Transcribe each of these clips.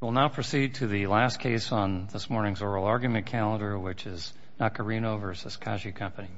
We'll now proceed to the last case on this morning's oral argument calendar, which is Nacarino v. Kashi Company.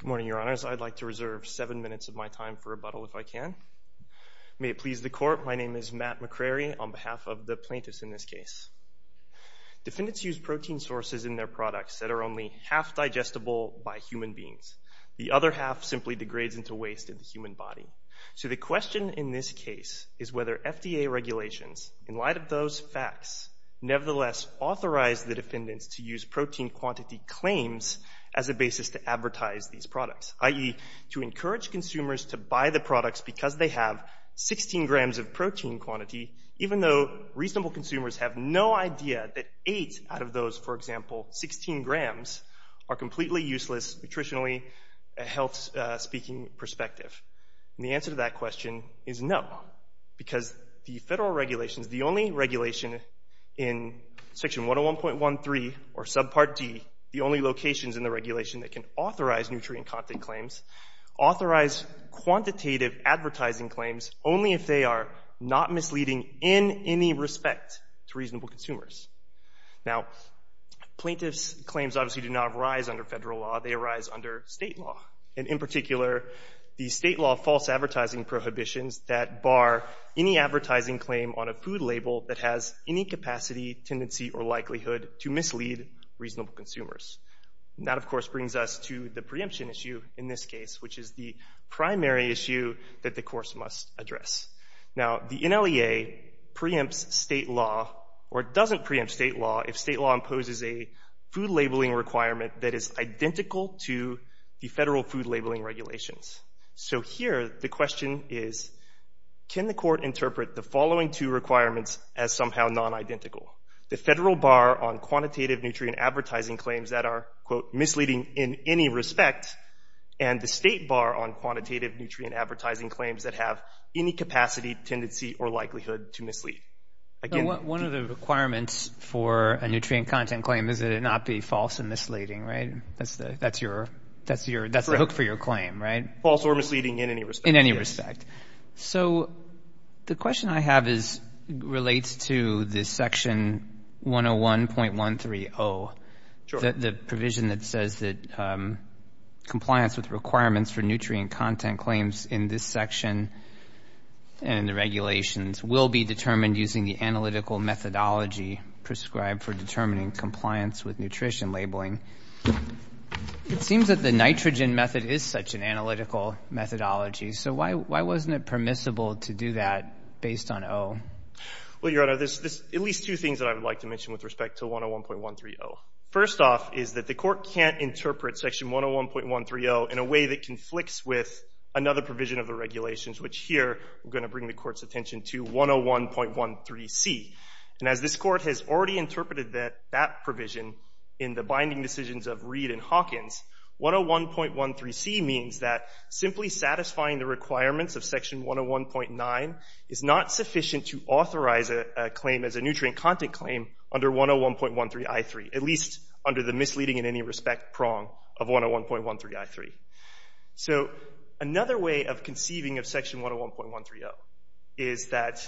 Good morning, Your Honors. I'd like to reserve seven minutes of my time for rebuttal, if I can. May it please the Court, my name is Matt McCrary on behalf of the plaintiffs in this case. Defendants use protein sources in their products that are only half digestible by human beings. The other half simply degrades into waste in the human body. So the question in this case is whether FDA regulations, in light of those facts, nevertheless authorize the defendants to use protein quantity claims as a basis to advertise these products, i.e., to encourage consumers to buy the products because they have 16 grams of protein quantity, even though reasonable consumers have no idea that eight out of those, for example, 16 grams, are completely useless nutritionally, health-speaking perspective. And the answer to that question is no. Because the federal regulations, the only regulation in Section 101.13 or Subpart D, the only locations in the regulation that can authorize nutrient content claims, authorize quantitative advertising claims only if they are not misleading in any respect to reasonable consumers. Now, plaintiffs' claims obviously do not arise under federal law, they arise under state law. And in particular, the state law false advertising prohibitions that bar any advertising claim on a food label that has any capacity, tendency, or likelihood to mislead reasonable consumers. And that, of course, brings us to the preemption issue in this case, which is the primary issue that the course must address. Now, the NLEA preempts state law, or doesn't preempt state law, if state law imposes a food labeling requirement that is identical to the federal food labeling regulations. So here, the question is, can the court interpret the following two requirements as somehow non-identical? The federal bar on quantitative nutrient advertising claims that are, quote, misleading in any respect, and the state bar on quantitative nutrient advertising claims that have any capacity, tendency, or likelihood to mislead. One of the requirements for a nutrient content claim is that it not be false and misleading, right? That's the hook for your claim, right? False or misleading in any respect. In any respect. So the question I have relates to this section 101.130. Sure. The provision that says that compliance with requirements for nutrient content claims in this section and the regulations will be determined using the analytical methodology prescribed for determining compliance with nutrition labeling. It seems that the nitrogen method is such an analytical methodology. So why wasn't it permissible to do that based on O? Well, Your Honor, there's at least two things that I would like to mention with respect to 101.130. First off is that the court can't interpret section 101.130 in a way that conflicts with another provision of the regulations, which here we're going to bring the court's attention to 101.13C. And as this court has already interpreted that provision in the binding decisions of Reed and Hawkins, 101.13C means that simply satisfying the requirements of section 101.9 is not sufficient to authorize a claim as a nutrient content claim under 101.13I3, at least under the misleading in any respect prong of 101.13I3. So another way of conceiving of section 101.130 is that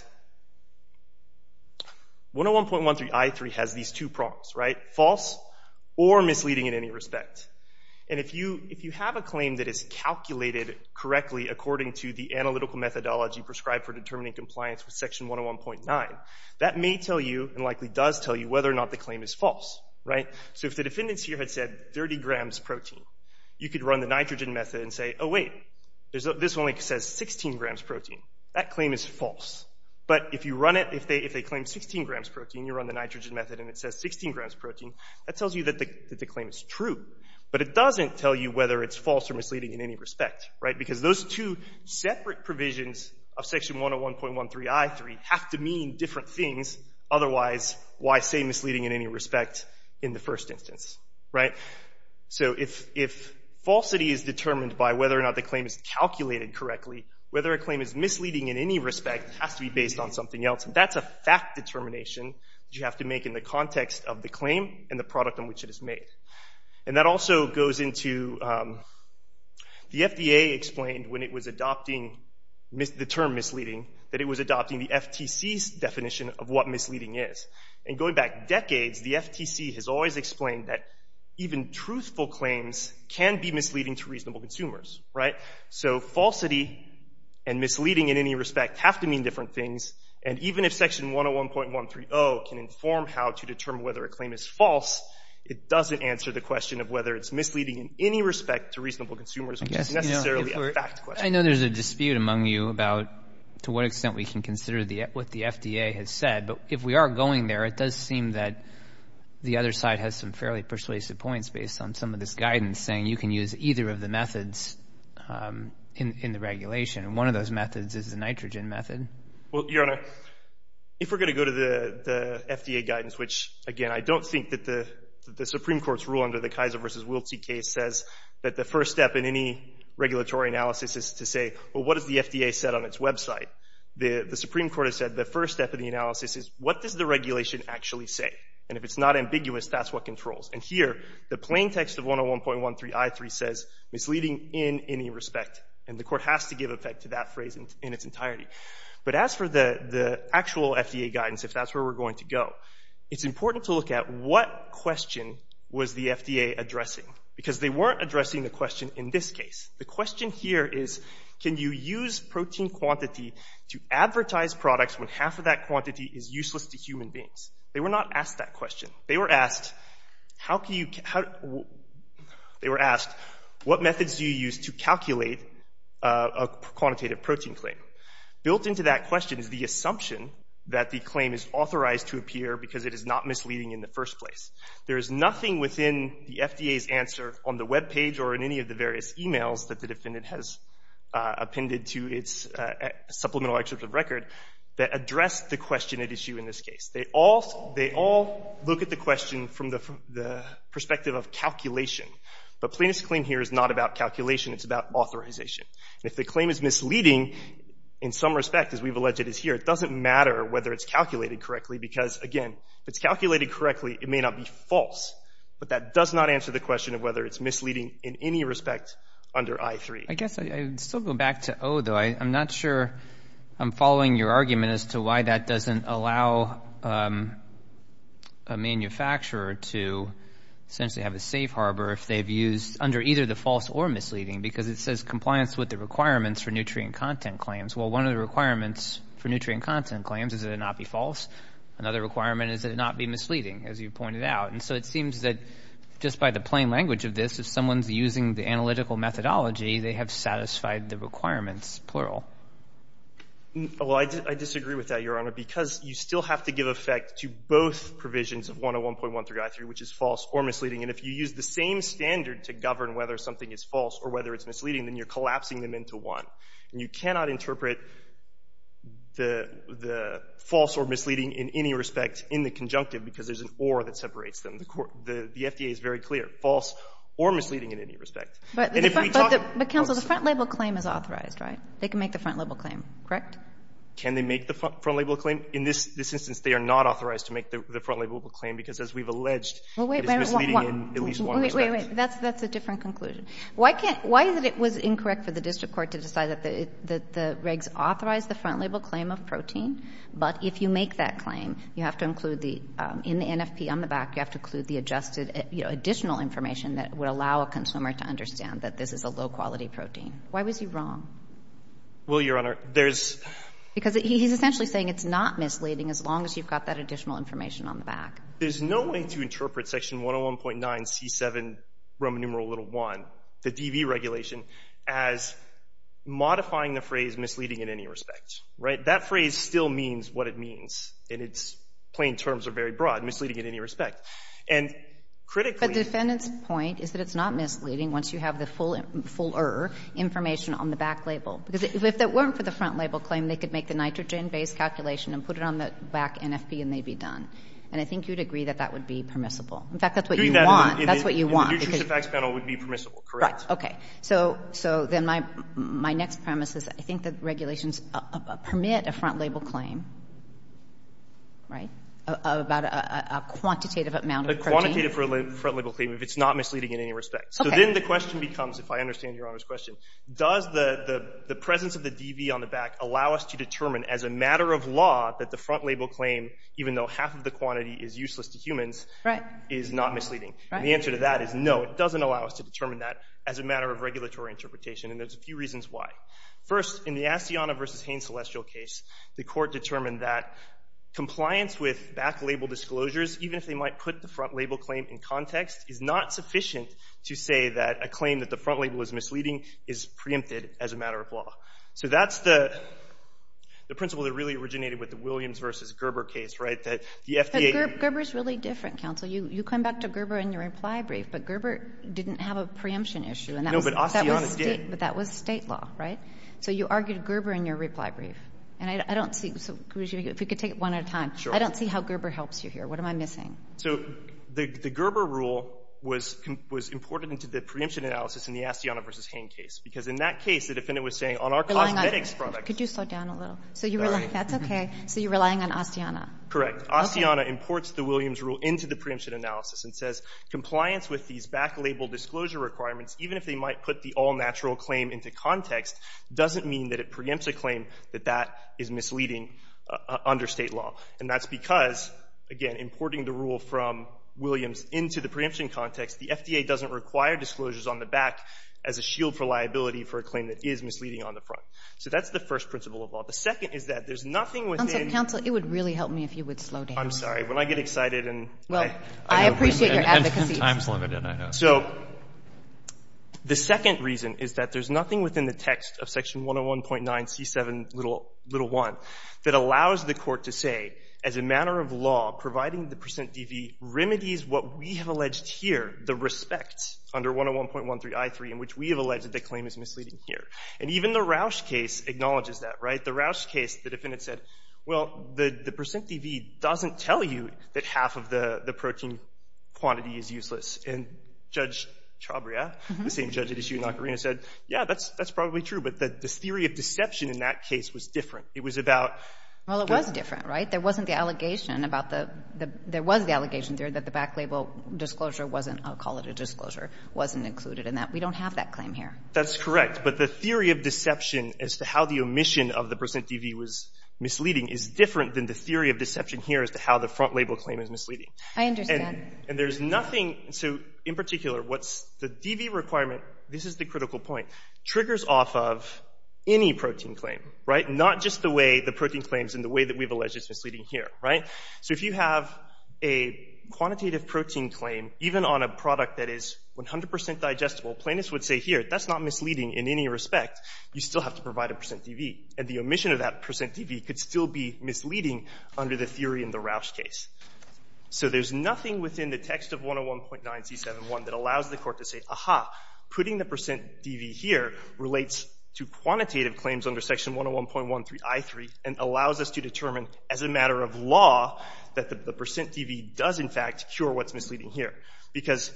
101.13I3 has these two prongs, right? False or misleading in any respect. And if you have a claim that is calculated correctly according to the analytical methodology prescribed for determining compliance with section 101.9, that may tell you and likely does tell you whether or not the claim is false, right? So if the defendants here had said 30 grams protein, you could run the nitrogen method and say, oh wait, this only says 16 grams protein. That claim is false. But if you run it, if they claim 16 grams protein, you run the nitrogen method and it says 16 grams protein, that tells you that the claim is true. But it doesn't tell you whether it's false or misleading in any respect, right? Because those two separate provisions of section 101.13I3 have to mean different things. Otherwise, why say misleading in any respect in the first instance, right? So if falsity is determined by whether or not the claim is calculated correctly, whether a claim is misleading in any respect has to be based on something else. And that's a fact determination that you have to make in the context of the claim and the product on which it is made. And that also goes into the FDA explained when it was adopting the term misleading that it was adopting the FTC's definition of what misleading is. And going back decades, the FTC has always explained that even truthful claims can be misleading to reasonable consumers, right? So falsity and misleading in any respect have to mean different things. And even if section 101.130 can inform how to determine whether a claim is false, it doesn't answer the question of whether it's misleading in any respect to reasonable consumers, which is necessarily a fact question. I know there's a dispute among you about to what extent we can consider what the FDA has said. But if we are going there, it does seem that the other side has some fairly persuasive points based on some of this guidance saying you can use either of the methods in the regulation. And one of those methods is the nitrogen method. Well, Your Honor, if we're going to go to the FDA guidance, which, again, I don't think that the Supreme Court's rule under the Kaiser v. Willte case says that the first step in any regulatory analysis is to say, well, what has the FDA said on its website? The Supreme Court has said the first step of the analysis is, what does the regulation actually say? And if it's not ambiguous, that's what controls. And here, the plain text of 101.13 I-3 says misleading in any respect. And the court has to give effect to that phrase in its entirety. But as for the actual FDA guidance, if that's where we're going to go, it's important to look at what question was the FDA addressing? Because they weren't addressing the question in this case. The question here is, can you use protein quantity to advertise products when half of that quantity is useless to human beings? They were not asked that question. They were asked, what methods do you use to calculate a quantitative protein claim? Built into that question is the assumption that the claim is authorized to appear because it is not misleading in the first place. There is nothing within the FDA's answer on the webpage or in any of the various e-mails that the defendant has appended to its supplemental excerpt of record that addressed the question at issue in this case. They all look at the question from the perspective of calculation. But plaintiff's claim here is not about calculation. It's about authorization. And if the claim is misleading, in some respect, as we've alleged it is here, it doesn't matter whether it's calculated correctly because, again, if it's calculated correctly, it may not be false. But that does not answer the question of whether it's misleading in any respect under I-3. I guess I'd still go back to O, though. I'm not sure I'm following your argument as to why that doesn't allow a manufacturer to essentially have a safe harbor if they've used under either the false or misleading because it says compliance with the requirements for nutrient content claims. Well, one of the requirements for nutrient content claims is that it not be false. Another requirement is that it not be misleading, as you pointed out. And so it seems that just by the plain language of this, if someone's using the analytical methodology, they have satisfied the requirements, plural. Well, I disagree with that, Your Honor, because you still have to give effect to both provisions of 101.1 through I-3, which is false or misleading. And if you use the same standard to govern whether something is false or whether it's misleading, then you're collapsing them into one. And you cannot interpret the false or misleading in any respect in the conjunctive because there's an or that separates them. The FDA is very clear, false or misleading in any respect. But, counsel, the front-label claim is authorized, right? They can make the front-label claim, correct? Can they make the front-label claim? In this instance, they are not authorized to make the front-label claim because, as we've alleged, it is misleading in at least one respect. Wait, wait, wait. That's a different conclusion. Why can't — why is it it was incorrect for the district court to decide that the regs authorize the front-label claim of protein? But if you make that claim, you have to include the — in the NFP on the back, you have to include the adjusted, you know, additional information that would allow a consumer to understand that this is a low-quality protein. Why was he wrong? Well, Your Honor, there's — Because he's essentially saying it's not misleading as long as you've got that additional information on the back. There's no way to interpret Section 101.9c7, Roman numeral little 1, the DV regulation, as modifying the phrase misleading in any respect. Right? That phrase still means what it means. And its plain terms are very broad, misleading in any respect. And critically — But the defendant's point is that it's not misleading once you have the full — full-er information on the back label. Because if it weren't for the front-label claim, they could make the nitrogen-based calculation and put it on the back NFP and they'd be done. And I think you'd agree that that would be permissible. In fact, that's what you want. Doing that in the — That's what you want. In the Nutrition Facts Panel, it would be permissible. Correct. Right. Okay. So then my next premise is I think the regulations permit a front-label claim, right, about a quantitative amount of protein. A quantitative front-label claim, if it's not misleading in any respect. Okay. So then the question becomes, if I understand Your Honor's question, does the presence of the DV on the back allow us to determine, as a matter of law, that the front-label claim, even though half of the quantity is useless to humans — Right. — is not misleading? And the answer to that is no. It doesn't allow us to determine that as a matter of regulatory interpretation. And there's a few reasons why. First, in the Asiana v. Haines Celestial case, the court determined that compliance with back-label disclosures, even if they might put the front-label claim in context, is not sufficient to say that a claim that the front-label is misleading is preempted as a matter of law. So that's the principle that really originated with the Williams v. Gerber case, right, that the FDA— But Gerber's really different, counsel. You come back to Gerber in your reply brief, but Gerber didn't have a preemption issue. No, but Asiana did. But that was state law, right? So you argued Gerber in your reply brief. And I don't see — so if we could take it one at a time. Sure. I don't see how Gerber helps you here. What am I missing? So the Gerber rule was imported into the preemption analysis in the Asiana v. Haines case because in that case the defendant was saying on our cosmetics product— Could you slow down a little? Sorry. That's okay. So you're relying on Asiana. Correct. Okay. Asiana imports the Williams rule into the preemption analysis and says compliance with these back-label disclosure requirements, even if they might put the all-natural claim into context, doesn't mean that it preempts a claim that that is misleading under state law. And that's because, again, importing the rule from Williams into the preemption context, the FDA doesn't require disclosures on the back as a shield for liability for a claim that is misleading on the front. So that's the first principle of law. The second is that there's nothing within— Counsel, it would really help me if you would slow down. I'm sorry. When I get excited and— Well, I appreciate your advocacy. Time's limited, I know. So the second reason is that there's nothing within the text of section 101.9c7.1 that allows the Court to say, as a matter of law, providing the percent DV remedies what we have alleged here, the respect under 101.13i3 in which we have alleged that the claim is misleading here. And even the Roush case acknowledges that, right? The Roush case, the defendant said, well, the percent DV doesn't tell you that half of the protein quantity is useless. And Judge Chabria, the same judge that issued in Ocarina, said, yeah, that's probably true. But the theory of deception in that case was different. It was about— Well, it was different, right? But there wasn't the allegation about the—there was the allegation there that the back label disclosure wasn't—I'll call it a disclosure—wasn't included in that. We don't have that claim here. That's correct. But the theory of deception as to how the omission of the percent DV was misleading is different than the theory of deception here as to how the front label claim is misleading. I understand. And there's nothing—so, in particular, what's—the DV requirement, this is the critical point, triggers off of any protein claim, right? And not just the way the protein claims and the way that we've alleged it's misleading here, right? So if you have a quantitative protein claim, even on a product that is 100 percent digestible, plaintiffs would say, here, that's not misleading in any respect. You still have to provide a percent DV. And the omission of that percent DV could still be misleading under the theory in the Roush case. So there's nothing within the text of 101.9c7.1 that allows the Court to say, aha, putting the percent DV here relates to quantitative claims under Section 101.13I3 and allows us to determine, as a matter of law, that the percent DV does, in fact, cure what's misleading here. Because,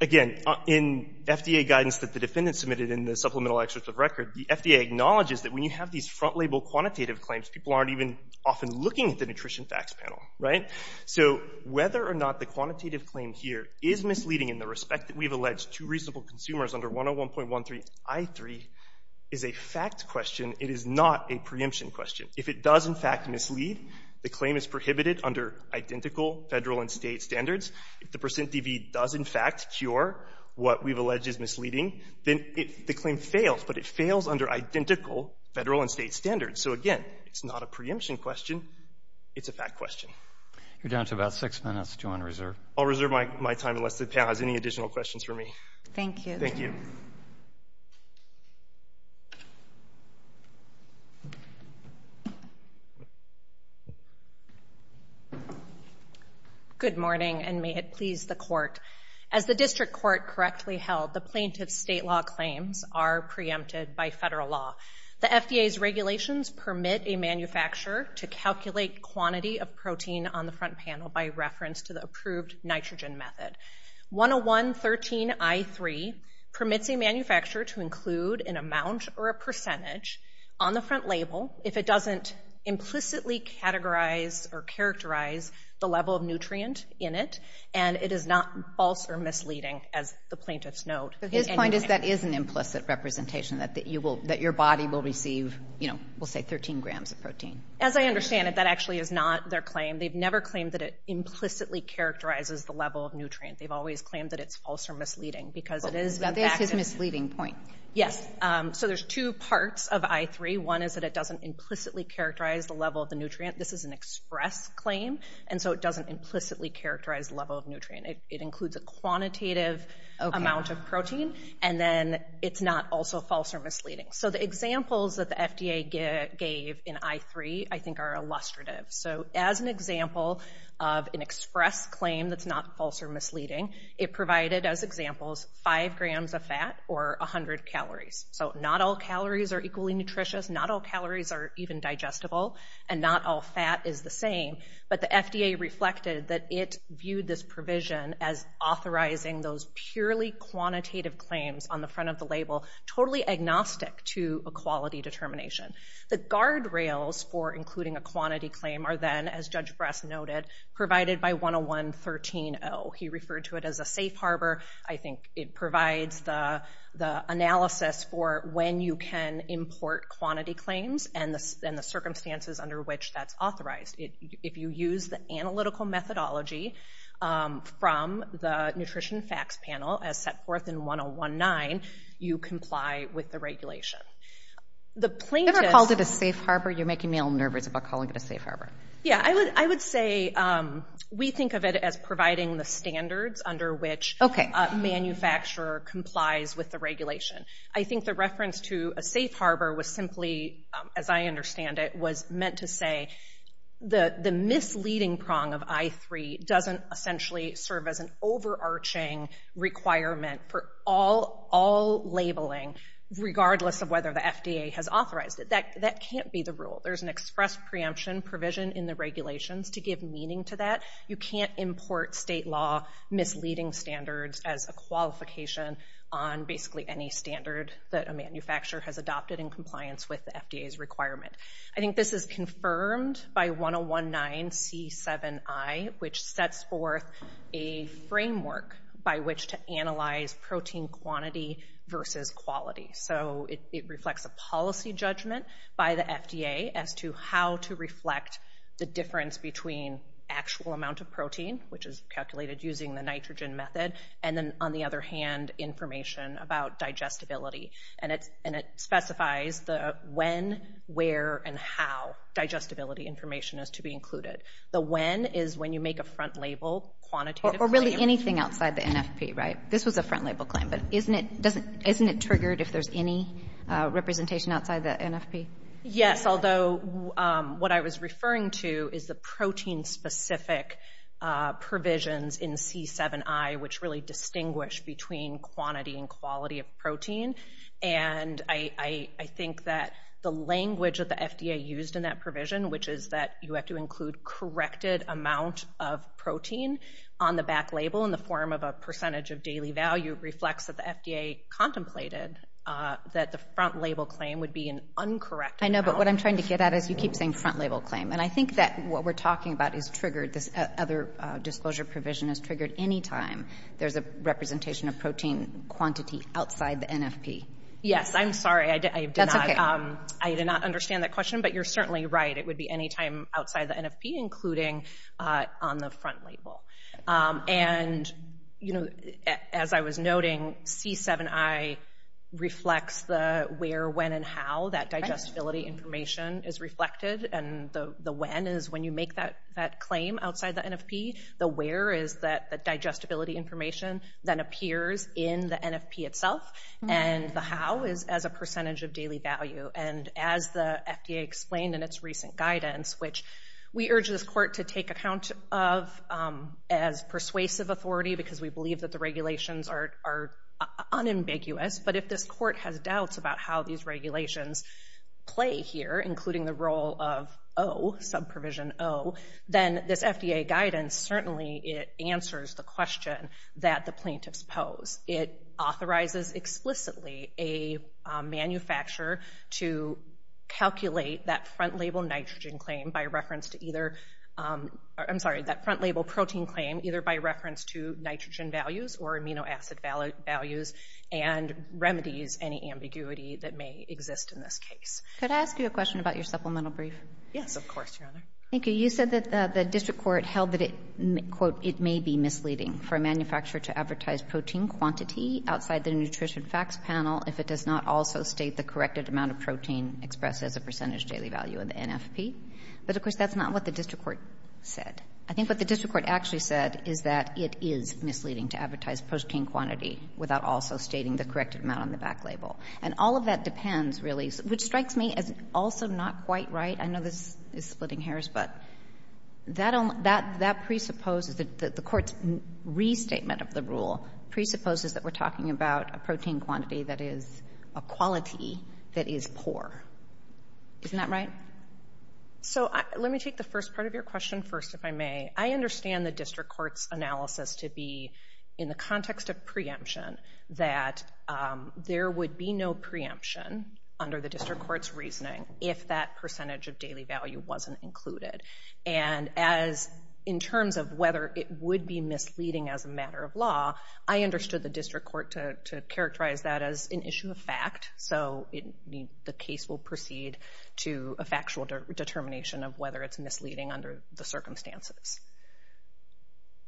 again, in FDA guidance that the defendant submitted in the Supplemental Excerpt of Record, the FDA acknowledges that when you have these front label quantitative claims, people aren't even often looking at the Nutrition Facts panel, right? So whether or not the quantitative claim here is misleading in the respect that we've alleged to reasonable consumers under 101.13I3 is a fact question. It is not a preemption question. If it does, in fact, mislead, the claim is prohibited under identical federal and state standards. If the percent DV does, in fact, cure what we've alleged is misleading, then the claim fails, but it fails under identical federal and state standards. So, again, it's not a preemption question. It's a fact question. You're down to about six minutes. Do you want to reserve? I'll reserve my time unless the panel has any additional questions for me. Thank you. Thank you. Good morning, and may it please the Court. As the District Court correctly held, the plaintiff's state law claims are preempted by federal law. The FDA's regulations permit a manufacturer to calculate quantity of protein on the front panel by reference to the approved nitrogen method. 101.13I3 permits a manufacturer to include an amount or a percentage on the front label if it doesn't implicitly categorize or characterize the level of nutrient in it, and it is not false or misleading, as the plaintiffs note. So his point is that is an implicit representation, that your body will receive, you know, we'll say 13 grams of protein. As I understand it, that actually is not their claim. They've never claimed that it implicitly characterizes the level of nutrient. They've always claimed that it's false or misleading because it is, in fact, Now, that's his misleading point. Yes. So there's two parts of I3. One is that it doesn't implicitly characterize the level of the nutrient. This is an express claim, and so it doesn't implicitly characterize the level of nutrient. It includes a quantitative amount of protein, and then it's not also false or misleading. So the examples that the FDA gave in I3 I think are illustrative. So as an example of an express claim that's not false or misleading, it provided, as examples, 5 grams of fat or 100 calories. So not all calories are equally nutritious, not all calories are even digestible, and not all fat is the same. But the FDA reflected that it viewed this provision as authorizing those purely quantitative claims on the front of the label totally agnostic to a quality determination. The guardrails for including a quantity claim are then, as Judge Bress noted, provided by 101.13.0. He referred to it as a safe harbor. I think it provides the analysis for when you can import quantity claims and the circumstances under which that's authorized. If you use the analytical methodology from the Nutrition Facts Panel, as set forth in 101.9, you comply with the regulation. Have you ever called it a safe harbor? You're making me all nervous about calling it a safe harbor. Yeah, I would say we think of it as providing the standards under which a manufacturer complies with the regulation. I think the reference to a safe harbor was simply, as I understand it, was meant to say the misleading prong of I3 doesn't essentially serve as an overarching requirement for all labeling, regardless of whether the FDA has authorized it. That can't be the rule. There's an express preemption provision in the regulations to give meaning to that. You can't import state law misleading standards as a qualification on basically any standard that a manufacturer has adopted in compliance with the FDA's requirement. I think this is confirmed by 101.9 C7I, which sets forth a framework by which to analyze protein quantity versus quality. So it reflects a policy judgment by the FDA as to how to reflect the difference between actual amount of protein, which is calculated using the nitrogen method, and then, on the other hand, information about digestibility. And it specifies the when, where, and how digestibility information is to be included. The when is when you make a front label quantitatively. Or really anything outside the NFP, right? This was a front label claim. But isn't it triggered if there's any representation outside the NFP? Yes, although what I was referring to is the protein-specific provisions in C7I, which really distinguish between quantity and quality of protein. And I think that the language that the FDA used in that provision, which is that you have to include corrected amount of protein on the back label in the form of a percentage of daily value, reflects that the FDA contemplated that the front label claim would be an uncorrected amount. I know, but what I'm trying to get at is you keep saying front label claim. And I think that what we're talking about is triggered. This other disclosure provision is triggered any time there's a representation of protein quantity outside the NFP. Yes, I'm sorry. That's okay. I did not understand that question, but you're certainly right. It would be any time outside the NFP, including on the front label. And, you know, as I was noting, C7I reflects the where, when, and how that digestibility information is reflected. And the when is when you make that claim outside the NFP. The where is the digestibility information that appears in the NFP itself. And the how is as a percentage of daily value. And as the FDA explained in its recent guidance, which we urge this court to take account of as persuasive authority, because we believe that the regulations are unambiguous. But if this court has doubts about how these regulations play here, including the role of O, subprovision O, then this FDA guidance certainly answers the question that the plaintiffs pose. It authorizes explicitly a manufacturer to calculate that front label nitrogen claim by reference to either, I'm sorry, that front label protein claim, either by reference to nitrogen values or amino acid values and remedies any ambiguity that may exist in this case. Could I ask you a question about your supplemental brief? Yes, of course, Your Honor. Thank you. You said that the district court held that it, quote, it may be misleading for a manufacturer to advertise protein quantity outside the nutrition facts panel if it does not also state the corrected amount of protein expressed as a percentage daily value in the NFP. But, of course, that's not what the district court said. I think what the district court actually said is that it is misleading to advertise protein quantity without also stating the corrected amount on the back label. And all of that depends, really, which strikes me as also not quite right. I know this is splitting hairs, but that presupposes that the court's restatement of the rule presupposes that we're talking about a protein quantity that is a quality that is poor. Isn't that right? So let me take the first part of your question first, if I may. I understand the district court's analysis to be in the context of preemption that there would be no preemption under the district court's reasoning if that percentage of daily value wasn't included. And as in terms of whether it would be misleading as a matter of law, I understood the district court to characterize that as an issue of fact, so the case will proceed to a factual determination of whether it's misleading under the circumstances.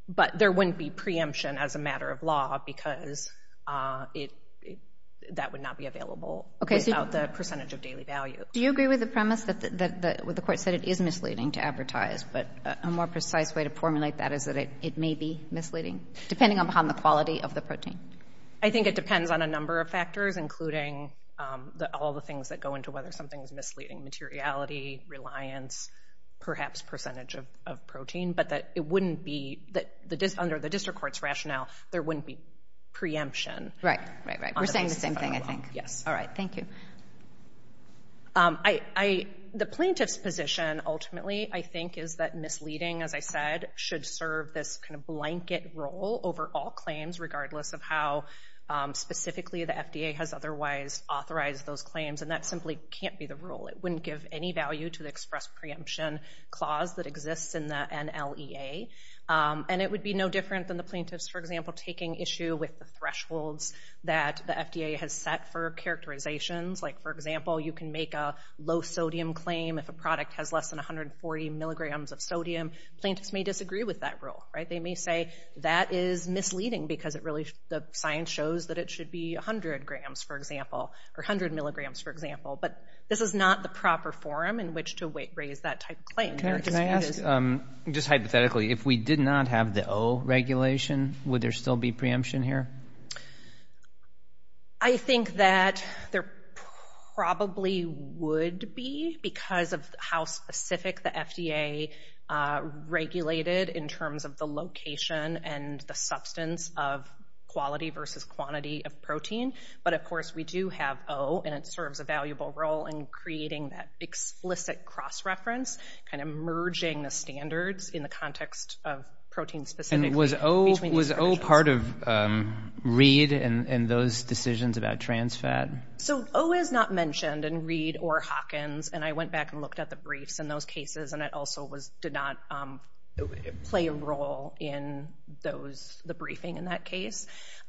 But there wouldn't be preemption as a matter of law because that would not be available without the percentage of daily value. Do you agree with the premise that the court said it is misleading to advertise, but a more precise way to formulate that is that it may be misleading, depending upon the quality of the protein? I think it depends on a number of factors, including all the things that go into whether something is misleading, materiality, reliance, perhaps percentage of protein. But under the district court's rationale, there wouldn't be preemption. Right, right, right. We're saying the same thing, I think. Yes. All right. Thank you. The plaintiff's position ultimately, I think, is that misleading, as I said, should serve this kind of blanket role over all claims, regardless of how specifically the FDA has otherwise authorized those claims. And that simply can't be the rule. It wouldn't give any value to the express preemption clause that exists in the NLEA. And it would be no different than the plaintiffs, for example, taking issue with the thresholds that the FDA has set for characterizations. Like, for example, you can make a low-sodium claim if a product has less than 140 milligrams of sodium. Plaintiffs may disagree with that rule. They may say that is misleading because the science shows that it should be 100 milligrams, for example. But this is not the proper forum in which to raise that type of claim. Can I ask, just hypothetically, if we did not have the O regulation, would there still be preemption here? I think that there probably would be, because of how specific the FDA regulated in terms of the location and the substance of quality versus quantity of protein. But, of course, we do have O, and it serves a valuable role in creating that explicit cross-reference, kind of merging the standards in the context of protein specifically. And was O part of Reed and those decisions about trans fat? So O is not mentioned in Reed or Hawkins. And I went back and looked at the briefs in those cases, and it also did not play a role in the briefing in that case.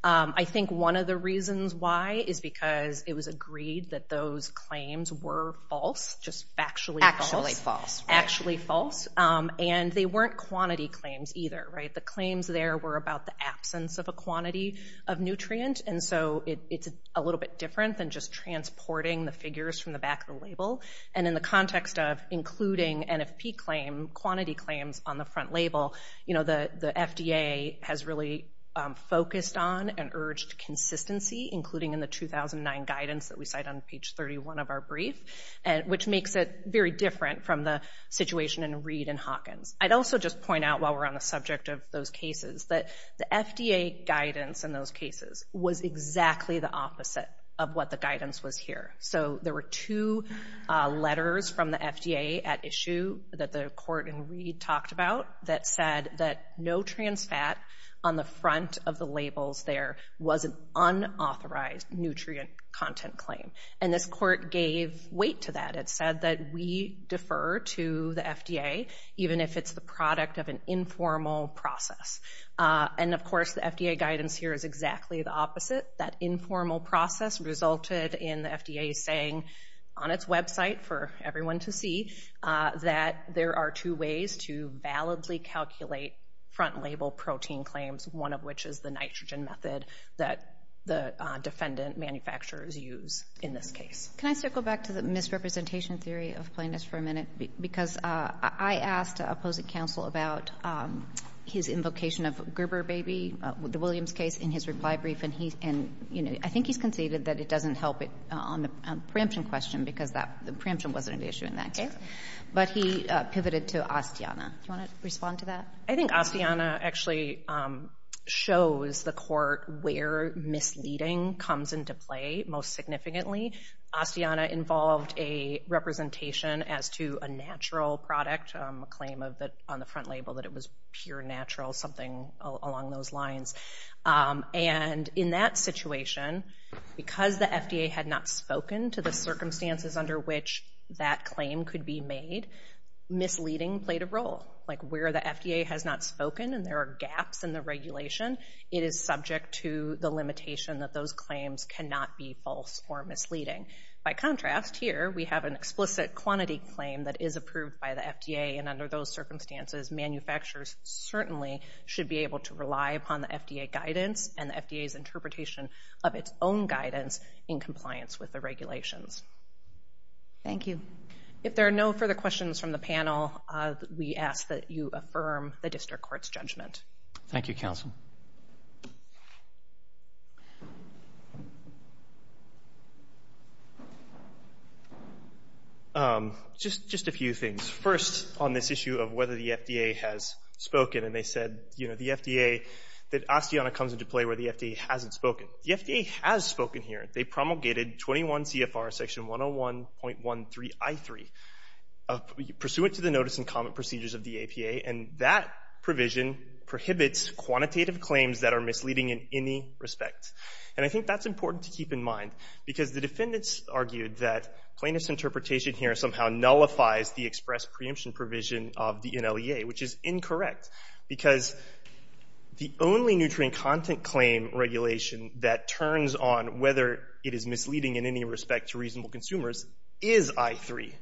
I think one of the reasons why is because it was agreed that those claims were false, just factually false. Actually false. Actually false. And they weren't quantity claims either. The claims there were about the absence of a quantity of nutrient, and so it's a little bit different than just transporting the figures from the back of the label. And in the context of including NFP claim, quantity claims on the front label, the FDA has really focused on and urged consistency, including in the 2009 guidance that we cite on page 31 of our brief, which makes it very different from the situation in Reed and Hawkins. I'd also just point out while we're on the subject of those cases that the FDA guidance in those cases was exactly the opposite of what the guidance was here. So there were two letters from the FDA at issue that the court in Reed talked about that said that no trans fat on the front of the labels there was an unauthorized nutrient content claim. And this court gave weight to that. It said that we defer to the FDA even if it's the product of an informal process. And, of course, the FDA guidance here is exactly the opposite. That informal process resulted in the FDA saying on its website for everyone to see that there are two ways to validly calculate front label protein claims, one of which is the nitrogen method that the defendant manufacturers use in this case. Can I circle back to the misrepresentation theory of plainness for a minute? Because I asked opposing counsel about his invocation of Gerber baby, the Williams case in his reply brief, and I think he's conceded that it doesn't help on the preemption question because the preemption wasn't an issue in that case. But he pivoted to Astiana. Do you want to respond to that? I think Astiana actually shows the court where misleading comes into play most significantly. Astiana involved a representation as to a natural product, a claim on the front label that it was pure natural, something along those lines. And in that situation, because the FDA had not spoken to the circumstances under which that claim could be made, misleading played a role. Like where the FDA has not spoken and there are gaps in the regulation, it is subject to the limitation that those claims cannot be false or misleading. By contrast, here we have an explicit quantity claim that is approved by the FDA, and under those circumstances manufacturers certainly should be able to rely upon the FDA guidance and the FDA's interpretation of its own guidance in compliance with the regulations. Thank you. If there are no further questions from the panel, we ask that you affirm the district court's judgment. Thank you, counsel. Just a few things. First, on this issue of whether the FDA has spoken. And they said, you know, the FDA, that Astiana comes into play where the FDA hasn't spoken. The FDA has spoken here. They promulgated 21 CFR section 101.13I3, pursuant to the notice and comment procedures of the APA, and that provision prohibits quantitative claims that are misleading in any respect. And I think that's important to keep in mind, because the defendants argued that plaintiff's interpretation here somehow nullifies the express preemption provision of the NLEA, which is incorrect because the only nutrient content claim regulation that turns on whether it is misleading in any respect to reasonable consumers is I3,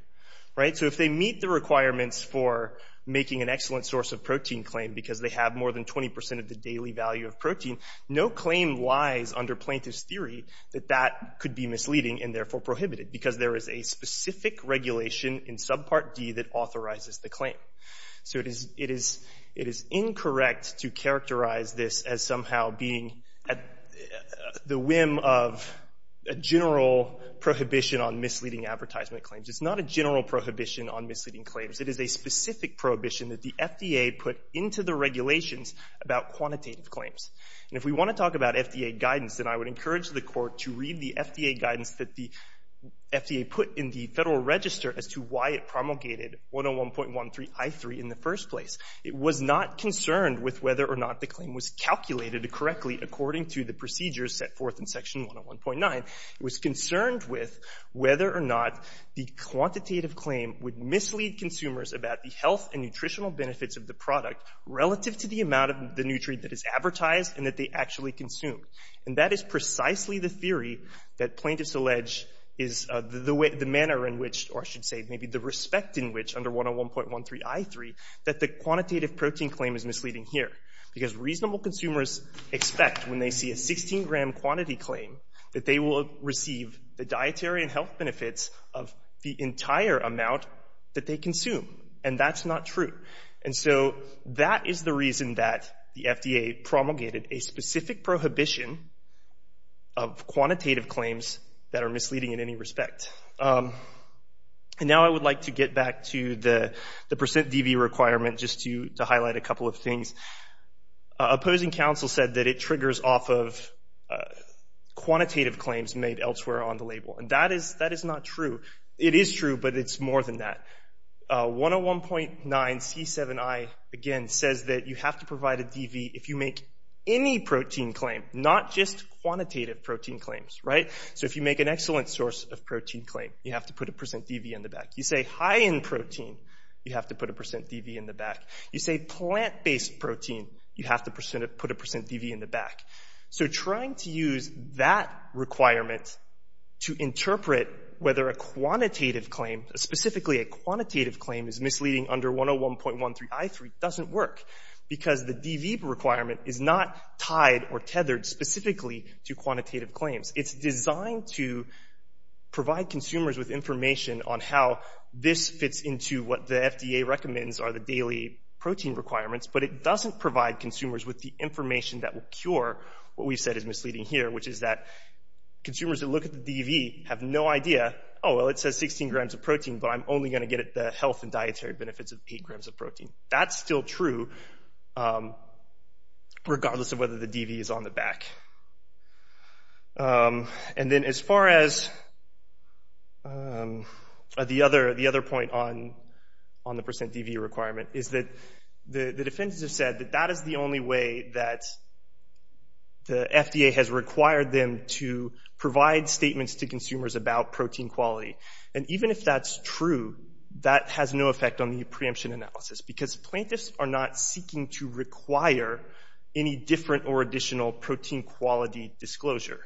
right? So if they meet the requirements for making an excellent source of protein claim because they have more than 20 percent of the daily value of protein, no claim lies under plaintiff's theory that that could be misleading and therefore prohibited, because there is a specific regulation in subpart D that authorizes the claim. So it is incorrect to characterize this as somehow being at the whim of a general prohibition on misleading advertisement claims. It's not a general prohibition on misleading claims. It is a specific prohibition that the FDA put into the regulations about quantitative claims. And if we want to talk about FDA guidance, then I would encourage the Court to read the FDA guidance that the FDA put in the Federal Register as to why it promulgated 101.13I3 in the first place. It was not concerned with whether or not the claim was calculated correctly according to the procedures set forth in section 101.9. It was concerned with whether or not the quantitative claim would mislead consumers about the health and nutritional benefits of the product relative to the amount of the nutrient that is advertised and that they actually consume. And that is precisely the theory that plaintiffs allege is the manner in which, or I should say maybe the respect in which under 101.13I3 that the quantitative protein claim is misleading here, because reasonable consumers expect when they see a 16-gram quantity claim that they will receive the dietary and health benefits of the entire amount that they consume. And that's not true. And so that is the reason that the FDA promulgated a specific prohibition of quantitative claims that are misleading in any respect. And now I would like to get back to the percent DV requirement just to highlight a couple of things. Opposing counsel said that it triggers off of quantitative claims made elsewhere on the label. And that is not true. It is true, but it's more than that. 101.9C7I, again, says that you have to provide a DV if you make any protein claim, not just quantitative protein claims, right? So if you make an excellent source of protein claim, you have to put a percent DV in the back. You say high-end protein, you have to put a percent DV in the back. You say plant-based protein, you have to put a percent DV in the back. So trying to use that requirement to interpret whether a quantitative claim, specifically a quantitative claim, is misleading under 101.13I3 doesn't work, because the DV requirement is not tied or tethered specifically to quantitative claims. It's designed to provide consumers with information on how this fits into what the FDA recommends are the daily protein requirements, but it doesn't provide consumers with the information that will cure what we've said is misleading here, which is that consumers that look at the DV have no idea, oh, well, it says 16 grams of protein, but I'm only going to get the health and dietary benefits of 8 grams of protein. That's still true, regardless of whether the DV is on the back. And then as far as the other point on the percent DV requirement, is that the defense has said that that is the only way that the FDA has required them to provide statements to consumers about protein quality. And even if that's true, that has no effect on the preemption analysis, because plaintiffs are not seeking to require any different or additional protein quality disclosure.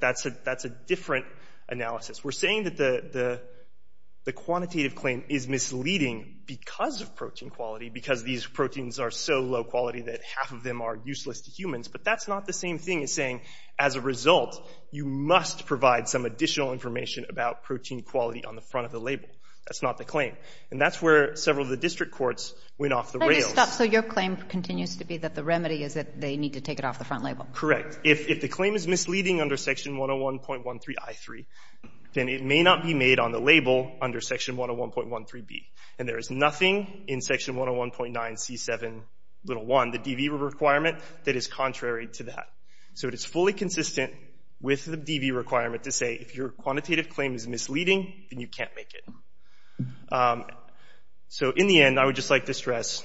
That's a different analysis. We're saying that the quantitative claim is misleading because of protein quality, because these proteins are so low quality that half of them are useless to humans, but that's not the same thing as saying, as a result, you must provide some additional information about protein quality on the front of the label. That's not the claim. And that's where several of the district courts went off the rails. So your claim continues to be that the remedy is that they need to take it off the front label. Correct. If the claim is misleading under Section 101.13i3, then it may not be made on the label under Section 101.13b. And there is nothing in Section 101.9c7.1, the DV requirement, that is contrary to that. So it is fully consistent with the DV requirement to say, if your quantitative claim is misleading, then you can't make it. So in the end, I would just like to stress,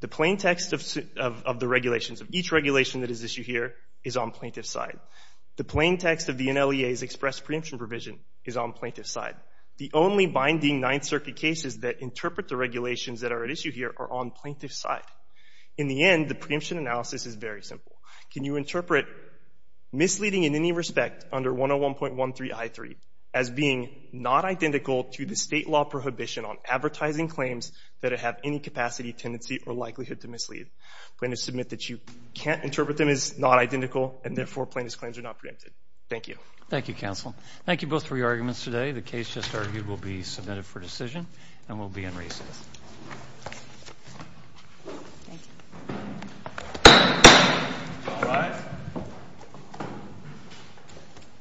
the plain text of the regulations, of each regulation that is issued here, is on plaintiff's side. The plain text of the NLEA's express preemption provision is on plaintiff's side. The only binding Ninth Circuit cases that interpret the regulations that are at issue here are on plaintiff's side. In the end, the preemption analysis is very simple. Can you interpret misleading in any respect under 101.13i3 as being not identical to the State law prohibition on advertising claims that have any capacity, tendency or likelihood to mislead? Plaintiffs submit that you can't interpret them as not identical, and therefore plaintiffs' claims are not preempted. Thank you. Thank you, counsel. Thank you both for your arguments today. The case just argued will be submitted for decision and will be in recess. Thank you.